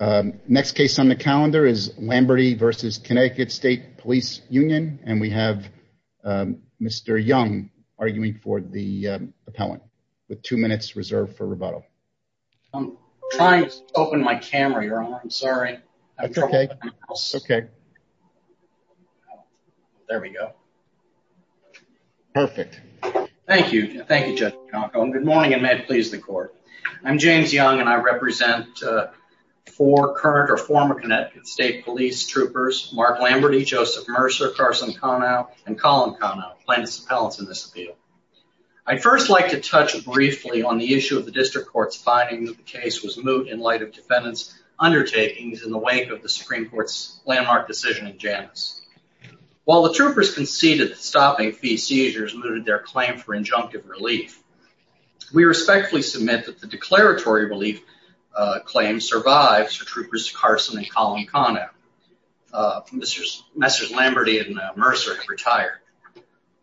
Next case on the calendar is Lamberty v. Connecticut State Police Union, and we have Mr. Young arguing for the appellant with two minutes reserved for rebuttal. I'm trying to open my camera, Your Honor. I'm sorry. Okay. There we go. Perfect. Thank you. Thank you, Judge. Good morning, and may it please the Court. I'm James Young, and I represent four current or former Connecticut State Police troopers, Mark Lamberty, Joseph Mercer, Carson Conow, and Colin Conow, plaintiffs' appellants in this appeal. I'd first like to touch briefly on the issue of the district court's finding that the case was moot in light of defendants' undertakings in the wake of the Supreme Court's landmark decision in Janus. While the troopers conceded that stopping fee seizures mooted their claim for injunctive relief, we respectfully submit that the declaratory relief claim survives for troopers Carson and Colin Conow. Messrs. Lamberty and Mercer have retired.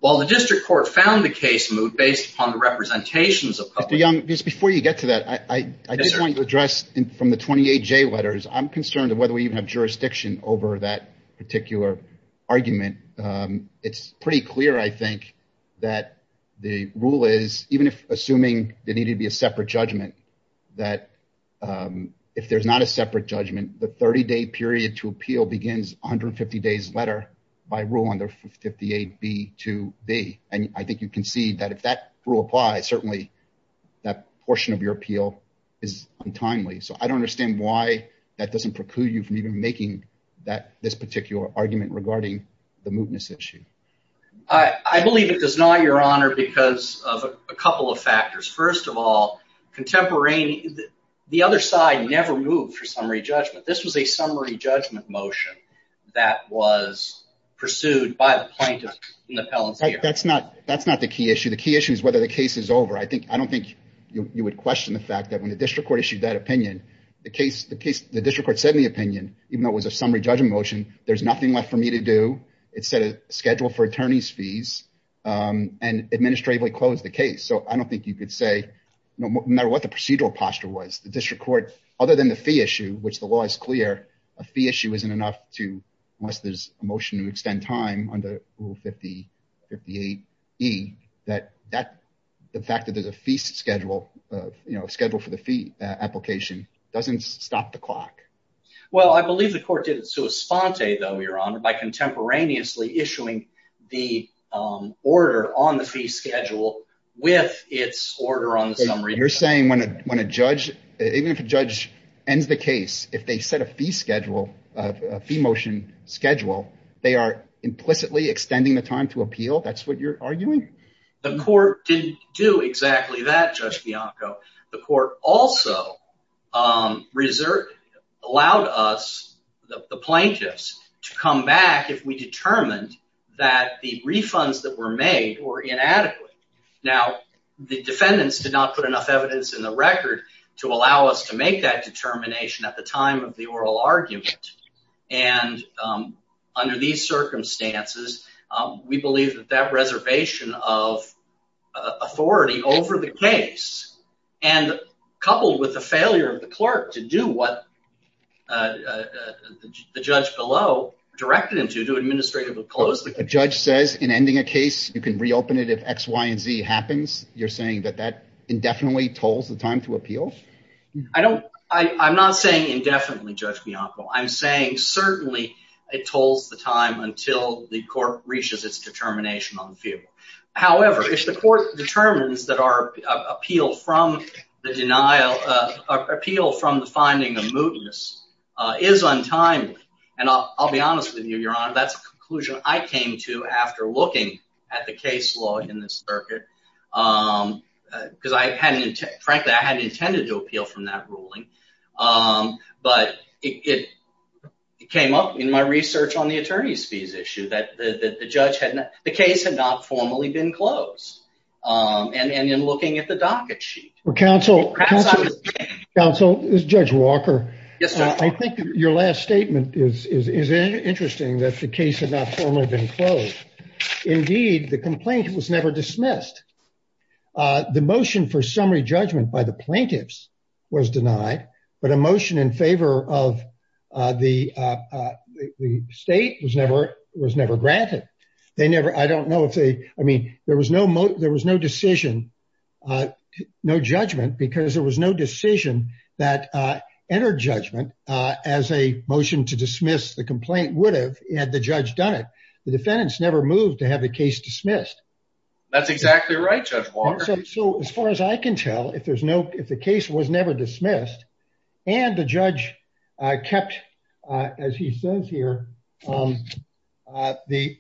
While the district court found the case moot based upon the representations of public... Mr. Young, just before you get to that, I just want to address from the 28J letters, I'm concerned of whether we even have jurisdiction over that particular argument. It's pretty clear, I think, that the rule is, even if assuming there needed to be a separate judgment, that if there's not a separate judgment, the 30-day period to appeal begins 150 days later by rule under 58B2B, and I think you can see that if that rule applies, certainly that portion of your appeal is untimely, so I don't understand why that doesn't preclude you from even making this particular argument regarding the mootness issue. I believe it does not, your honor, because of a couple of factors. First of all, the other side never moved for summary judgment. This was a summary judgment motion that was pursued by the plaintiff. That's not the key issue. The key issue is whether the case is over. I don't think you would question the fact that when the district court issued that opinion, the case, the district court said in the opinion, even though it was a summary judgment motion, there's nothing left for me to do. It set a schedule for attorney's fees and administratively closed the case, so I don't think you could say, no matter what the procedural posture was, the district court, other than the fee issue, which the law is clear, a fee issue isn't enough to, unless there's a motion to extend time under rule 58E, that the fact that there's a fee schedule, you know, schedule for the fee application doesn't stop the clock. Well, I believe the court did it sua sponte, though, your honor, by contemporaneously issuing the order on the fee schedule with its order on the summary. You're saying when a judge, even if a judge ends the case, if they set a fee schedule, a fee motion schedule, they are implicitly extending the time to appeal? That's what you're arguing? The court didn't do exactly that, Judge Bianco. The court also reserved, allowed us, the plaintiffs, to come back if we determined that the refunds that were made were inadequate. Now, the defendants did not put enough evidence in the record to allow us to make that determination at the time of the oral argument, and under these circumstances, we believe that that reservation of authority over the case, and coupled with the failure of the clerk to do what the judge below directed him to, to administratively close the case. The judge says in ending a case, you can reopen it if X, Y, and Z happens. You're saying that that indefinitely tolls the time to appeal? I don't, I'm not saying indefinitely, Judge Bianco. I'm saying certainly it tolls the time until the court reaches its determination on the feeable. However, if the court determines that our appeal from the denial, appeal from the finding of mootness is untimely, and I'll be honest with you, Your Honor, that's a conclusion I came to after looking at the case law in this circuit, because I hadn't, frankly, I hadn't intended to appeal from that ruling, but it came up in my research on the attorney's fees issue that the judge had, the case had not formally been closed, and in looking at the docket sheet. Well, counsel, counsel, Judge Walker, I think your last statement is interesting that the case had not formally been closed. Indeed, the complaint was never dismissed. The motion for summary judgment by the plaintiffs was denied, but a motion in favor of the state was never granted. They never, I don't know if they, I mean, there was no decision, no judgment, because there was no decision that entered judgment as a motion to dismiss the complaint would have had the judge done it. The defendants never moved to have the case dismissed. That's exactly right, Judge Walker. So as far as I can tell, if there's no, if the case was never dismissed and the judge kept, as he says here, the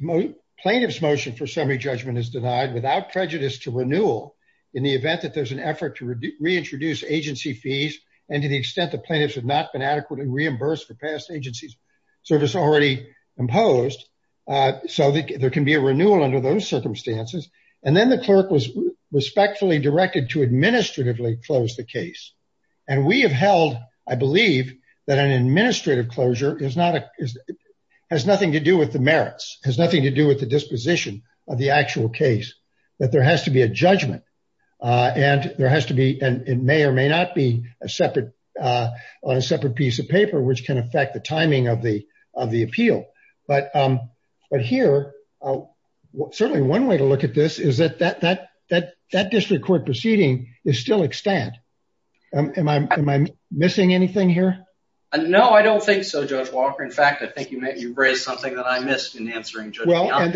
plaintiff's motion for summary judgment is denied without prejudice to renewal in the event that there's an effort to reintroduce agency fees and to the extent the plaintiffs have not been adequately reimbursed for past agency service already imposed, so there can be a renewal under those circumstances, and then the clerk was respectfully directed to administratively close the case, and we have held, I believe, that an administrative closure is not, has nothing to do with the merits, has nothing to do with the disposition of the actual case, that there has to be a judgment, and there has to be, it may or may not be a separate, on a separate piece of paper which can affect the timing of the of the appeal, but here, certainly one way to look at this is that that district court proceeding is still extant. Am I missing anything here? No, I don't think so, Judge Walker. In fact, I think you raised something that I missed in answering Judge Gallant. And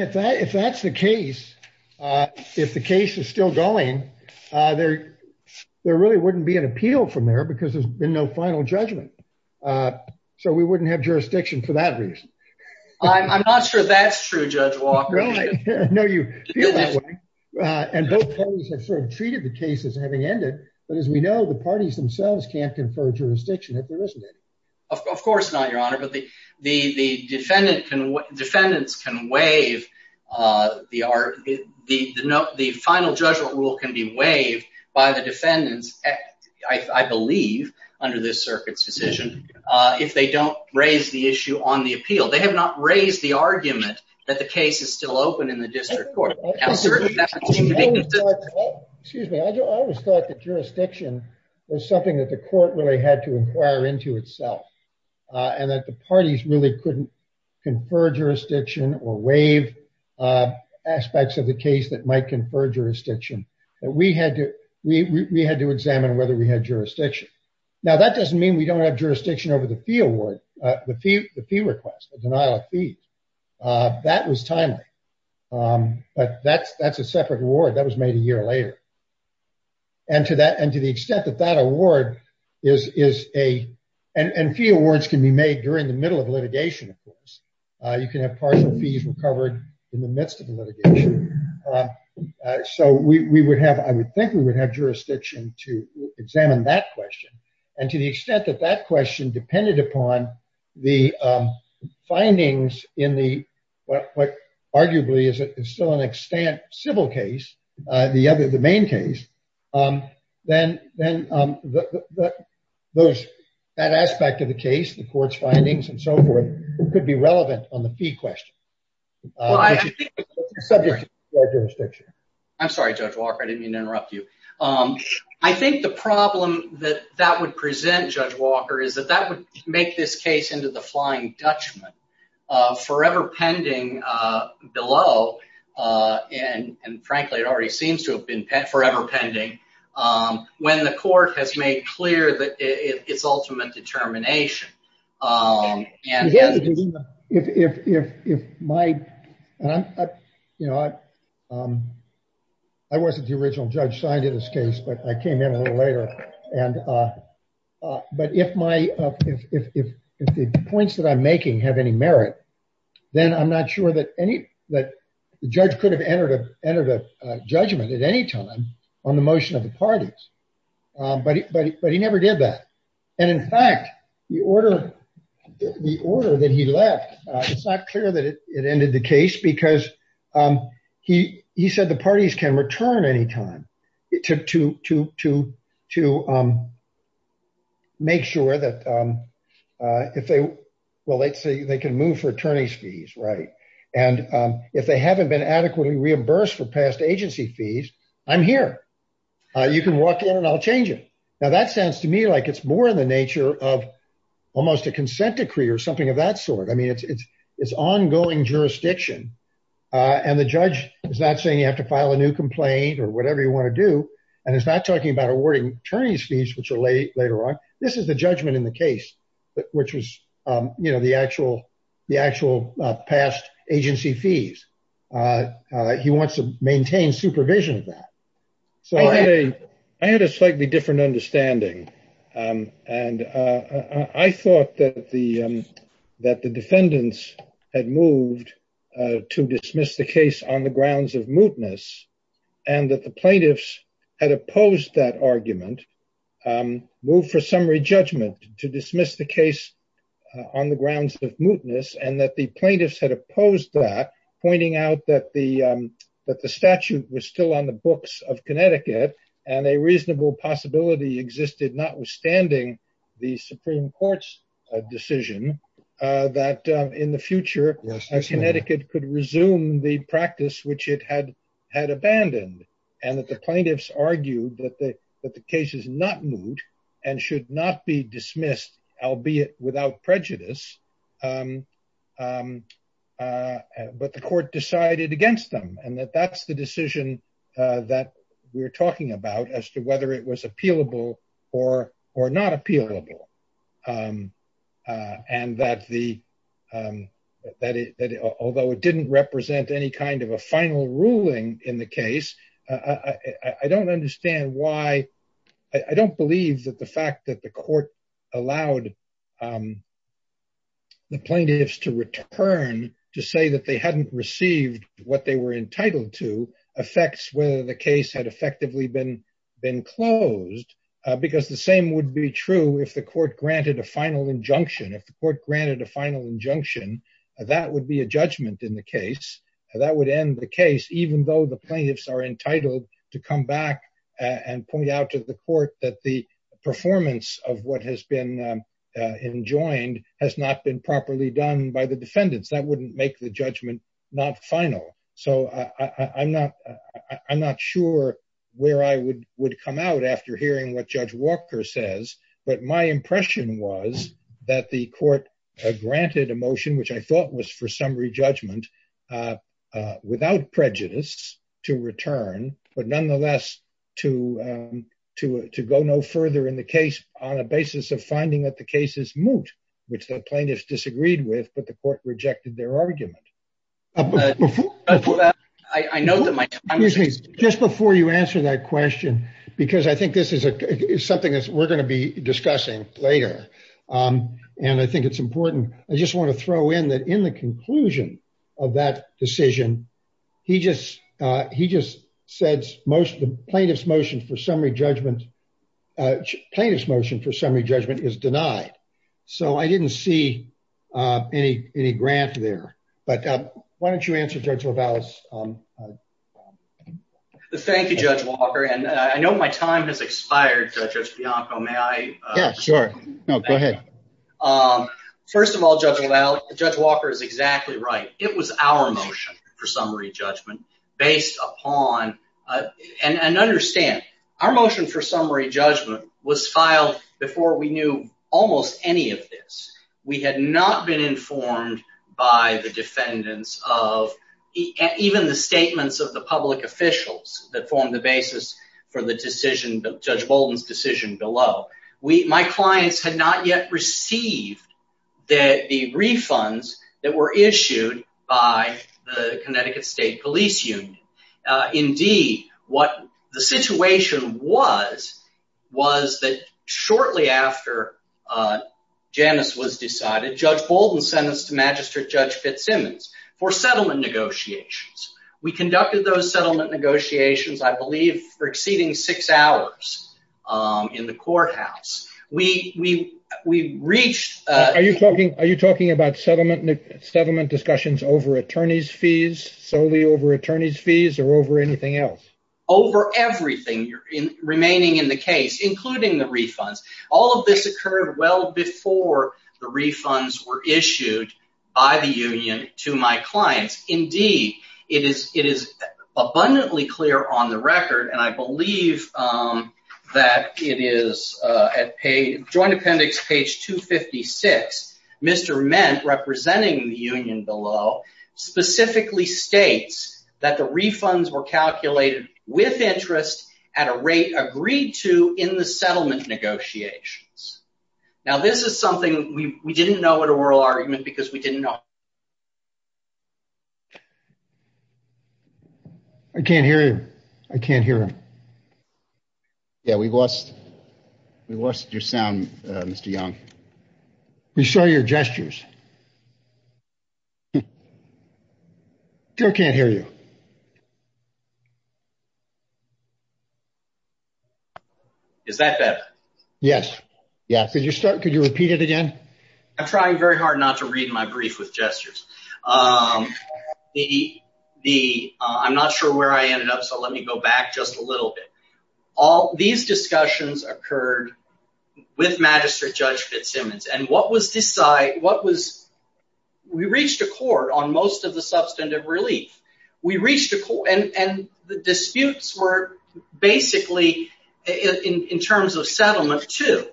if that's the case, if the case is still going, there really wouldn't be an appeal from there because there's been no final judgment, so we wouldn't have jurisdiction for that reason. I'm not sure that's true, Judge Walker. No, you feel that way, and both parties have sort of treated the case as having ended, but as we know, the parties themselves can't confer jurisdiction if there isn't any. Of course not, Your Honor, but the defendant can, defendants can waive the final judgment rule can be waived by the defendants, I believe, under this circuit's decision, if they don't raise the issue on the appeal. They have not raised the argument that the case is still open in the district court. Excuse me, I always thought that jurisdiction was something that the court really had to inquire into itself, and that the parties really couldn't confer jurisdiction or waive aspects of the case that might confer jurisdiction. We had to examine whether we had jurisdiction. Now, that doesn't mean we don't have jurisdiction over the fee award, the fee request, the denial of fee. That was timely, but that's a separate award. That was made a year later, and to that, and to the extent that that award is a, and fee awards can be made during the middle of litigation, of course. You can have partial fees recovered in the midst of the litigation, so we would have, I would think we would have jurisdiction to examine that question, and to the extent that that question depended upon the findings in the, what arguably is still an extant civil case, the other, the main case, then those, that aspect of the case, the court's findings and so forth, could be relevant on the fee question. I'm sorry, Judge Walker, I didn't mean to interrupt you. I think the problem that that would present, Judge Walker, is that that would make this case into the flying Dutchman, forever pending below, and frankly, it already seems to have been forever pending, when the court has made clear that it's ultimate determination. And if my, and I'm, you know, I wasn't the original judge signed into this case, but I came in a little later, and, but if my, if the points that I'm making have any merit, then I'm not sure that any, that the judge could have entered a judgment at any time on the motion of the parties. But he, but he never did that. And in fact, the order, the order that he left, it's not clear that it ended the case, because he, he said the parties can return any time to, to, to, to make sure that if they, well, let's say they can move for attorney's fees, right? And if they haven't been adequately reimbursed for past agency fees, I'm here, you can walk in and I'll change it. Now, that sounds to me like it's more in the nature of almost a consent decree or something of that sort. I mean, it's, it's, it's ongoing jurisdiction. And the judge is not saying you have to file a new complaint or whatever you want to do. And it's not talking about awarding attorney's fees, which are late later on. This is the judgment in the case, which was, you know, the actual, the actual past agency fees. He wants to maintain supervision of that. So I had a slightly different understanding. And I thought that the, that the defendants had moved to dismiss the case on the grounds of mootness, and that the plaintiffs had opposed that argument, move for summary judgment to dismiss the case. And I thought that the, that the statute was still on the books of Connecticut, and a reasonable possibility existed, notwithstanding the Supreme Court's decision that in the future, Connecticut could resume the practice which it had, had abandoned, and that the plaintiffs argued that the, that the case is not moot, and should not be dismissed, albeit without prejudice. But the court decided against them, and that that's the decision that we're talking about as to whether it was appealable or, or not appealable. And that the, that it, although it didn't represent any kind of a final ruling in the case, I don't understand why. I don't believe that the fact that the court allowed the plaintiffs to return to say that they hadn't received what they were entitled to affects whether the case had effectively been, been closed. Because the same would be true if the court granted a final injunction. If the court granted a final injunction, that would be a judgment in the case. That would end the case, even though the plaintiffs are entitled to come back and point out to the court that the performance of what has been enjoined has not been properly done by the defendants. That wouldn't make the judgment not final. So, I'm not, I'm not sure where I would, would come out after hearing what Judge Walker says. But my impression was that the court granted a motion, which I thought was for summary judgment, without prejudice, to return, but nonetheless, to, to, to go no further in the case on a basis of finding that the case is moot, which the plaintiffs disagreed with, but the court rejected their argument. I know that my time is just before you answer that question, because I think this is a something that we're going to be discussing later. And I think it's important, I just want to throw in that in the conclusion of that decision, he just, he just said most of the plaintiff's motion for summary judgment, plaintiff's motion for summary judgment is denied. So, I didn't see any, any grant there. But why don't you answer Judge LaVallis? Thank you, Judge Walker. And I know my time has expired, Judge Bianco. May I? Yeah, sure. No, go ahead. Um, first of all, Judge LaVallis, Judge Walker is exactly right. It was our motion for summary judgment based upon, and understand, our motion for summary judgment was filed before we knew almost any of this. We had not been informed by the defendants of, even the statements of the public officials that formed the basis for the decision, Judge Bolden's decision below. We, my received the refunds that were issued by the Connecticut State Police Union. Indeed, what the situation was, was that shortly after Janice was decided, Judge Bolden sentenced to Magistrate Judge Fitzsimmons for settlement negotiations. We conducted those settlement negotiations, I believe, for exceeding six hours, um, in the courthouse. We, we, we reached, uh... Are you talking, are you talking about settlement, settlement discussions over attorney's fees, solely over attorney's fees, or over anything else? Over everything remaining in the case, including the refunds. All of this occurred well before the refunds were issued by the union to my clients. Indeed, it is, it is abundantly clear on the record, and I believe, um, that it is, uh, at page, Joint Appendix, page 256, Mr. Ment, representing the union below, specifically states that the refunds were calculated with interest at a rate agreed to in the settlement negotiations. Now, this is something we, we didn't know in a rural argument because we didn't know. I can't hear you. I can't hear him. Yeah, we lost, we lost your sound, uh, Mr. Young. We saw your gestures. Joe can't hear you. Is that better? Yes. Yeah. Could you start, could you repeat it again? I'm trying very hard not to read my brief with gestures. Um, the, the, uh, I'm not sure where I ended up, so let me go back just a little bit. All, these discussions occurred with Magistrate Judge Fitzsimmons and what was decide, what was, we reached a court on most of the substantive relief. We reached a court and, and the disputes were basically in, in terms of settlement two,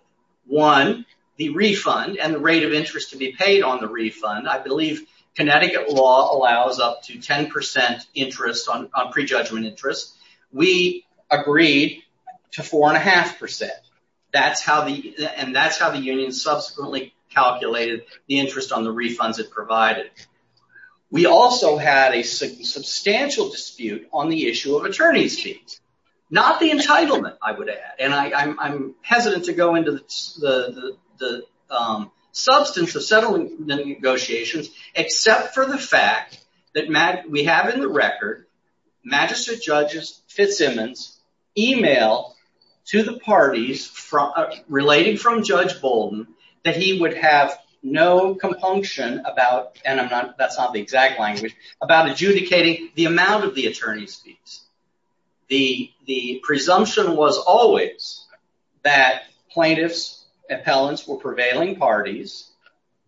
one, the refund and the rate of interest to be paid on the refund. I believe Connecticut law allows up to 10% interest on, on prejudgment interest. We agreed to four and a half percent. That's how the, and that's how the union subsequently calculated the interest on the refunds it provided. We also had a substantial dispute on the issue of attorney's fees, not the entitlement, I would add. And I, I'm, I'm hesitant to go into the, the, the, um, substance of settling the negotiations, except for the fact that we have in the record Magistrate Judge Fitzsimmons emailed to the parties from, relating from Judge Bolden that he would have no compunction about, and I'm not, that's not the exact language, about adjudicating the amount of the attorney's fees. The, the presumption was always that plaintiffs, appellants were prevailing parties,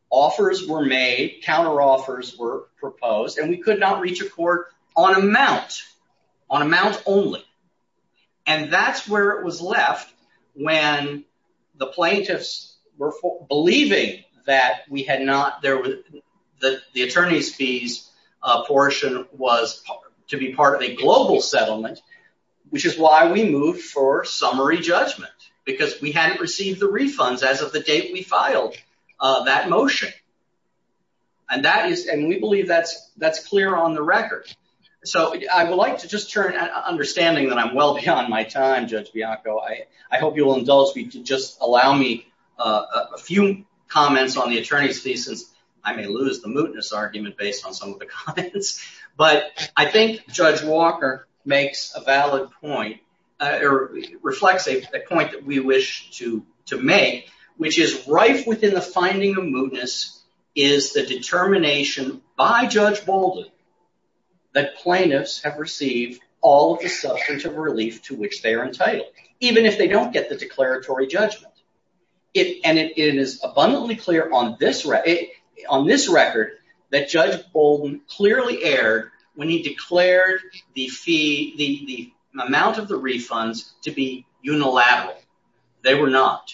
offers were made, counter offers were proposed, and we could not reach a court on amount, on amount only. And that's where it was left when the plaintiffs were believing that we had not, there was, that the attorney's fees portion was to be part of a global settlement, which is why we moved for summary judgment, because we hadn't received the refunds as of the date we filed that motion. And that is, and we believe that's, that's clear on the record. So I would like to just turn, understanding that I'm well beyond my time, Judge Bianco, I, I hope you will indulge me to just allow me a few comments on the attorney's fees, since I may lose the mootness argument based on some of the comments. But I think Judge Walker makes a valid point, or reflects a point that we wish to, to make, which is rife within the finding of mootness is the determination by Judge Bolden that plaintiffs have received all of the substantive relief to which they are entitled, even if they don't get the declaratory judgment. It, and it is abundantly clear on this, on this record that Judge Bolden clearly erred when he declared the fee, the, the amount of the refunds to be unilateral. They were not.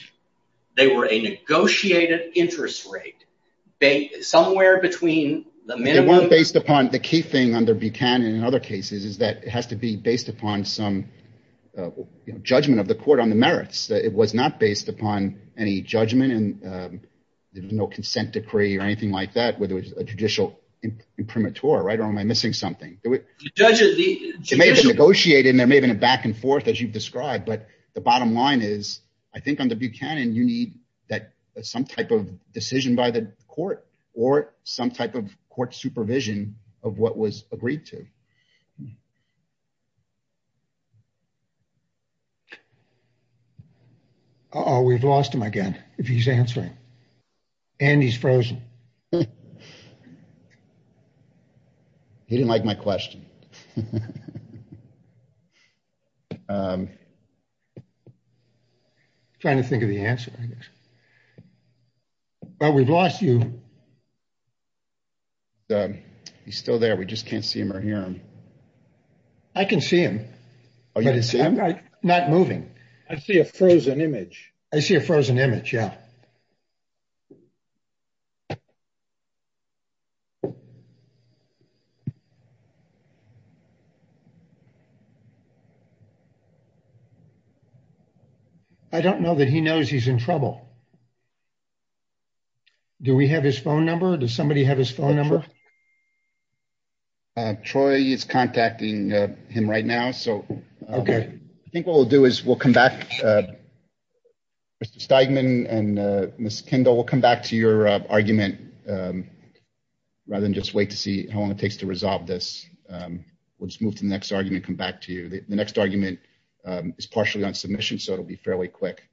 They were a negotiated interest rate. They, somewhere between the minimum... They weren't based upon, the key thing under Buchanan and other cases is that it has to be based upon some, you know, judgment of the court on the merits. It was not based upon any judgment and there was no consent decree or anything like that, whether it was a judicial imprimatur, right, or am I missing something? It may have been negotiated and there may have been a back and forth as you've described, but the bottom line is, I think under Buchanan, you need that some type of decision by the court or some type of court supervision of what was agreed to. Uh-oh, we've lost him again, if he's answering, and he's frozen. He didn't like my question. I'm trying to think of the answer, I guess, but we've lost you. He's still there, we just can't see him or hear him. I can see him. Oh, you can see him? Not moving. I see a frozen image. I see a frozen image, yeah. I don't know that he knows he's in trouble. Do we have his phone number? Does somebody have his phone number? Troy is contacting him right now, so I think what we'll do is we'll come back. Mr. Steigman and Ms. Kendall, we'll come back to your argument rather than just wait to see how long it takes to resolve this. We'll just move to the next argument, come back to you. The next argument is partially on submission, so it'll be fairly quick.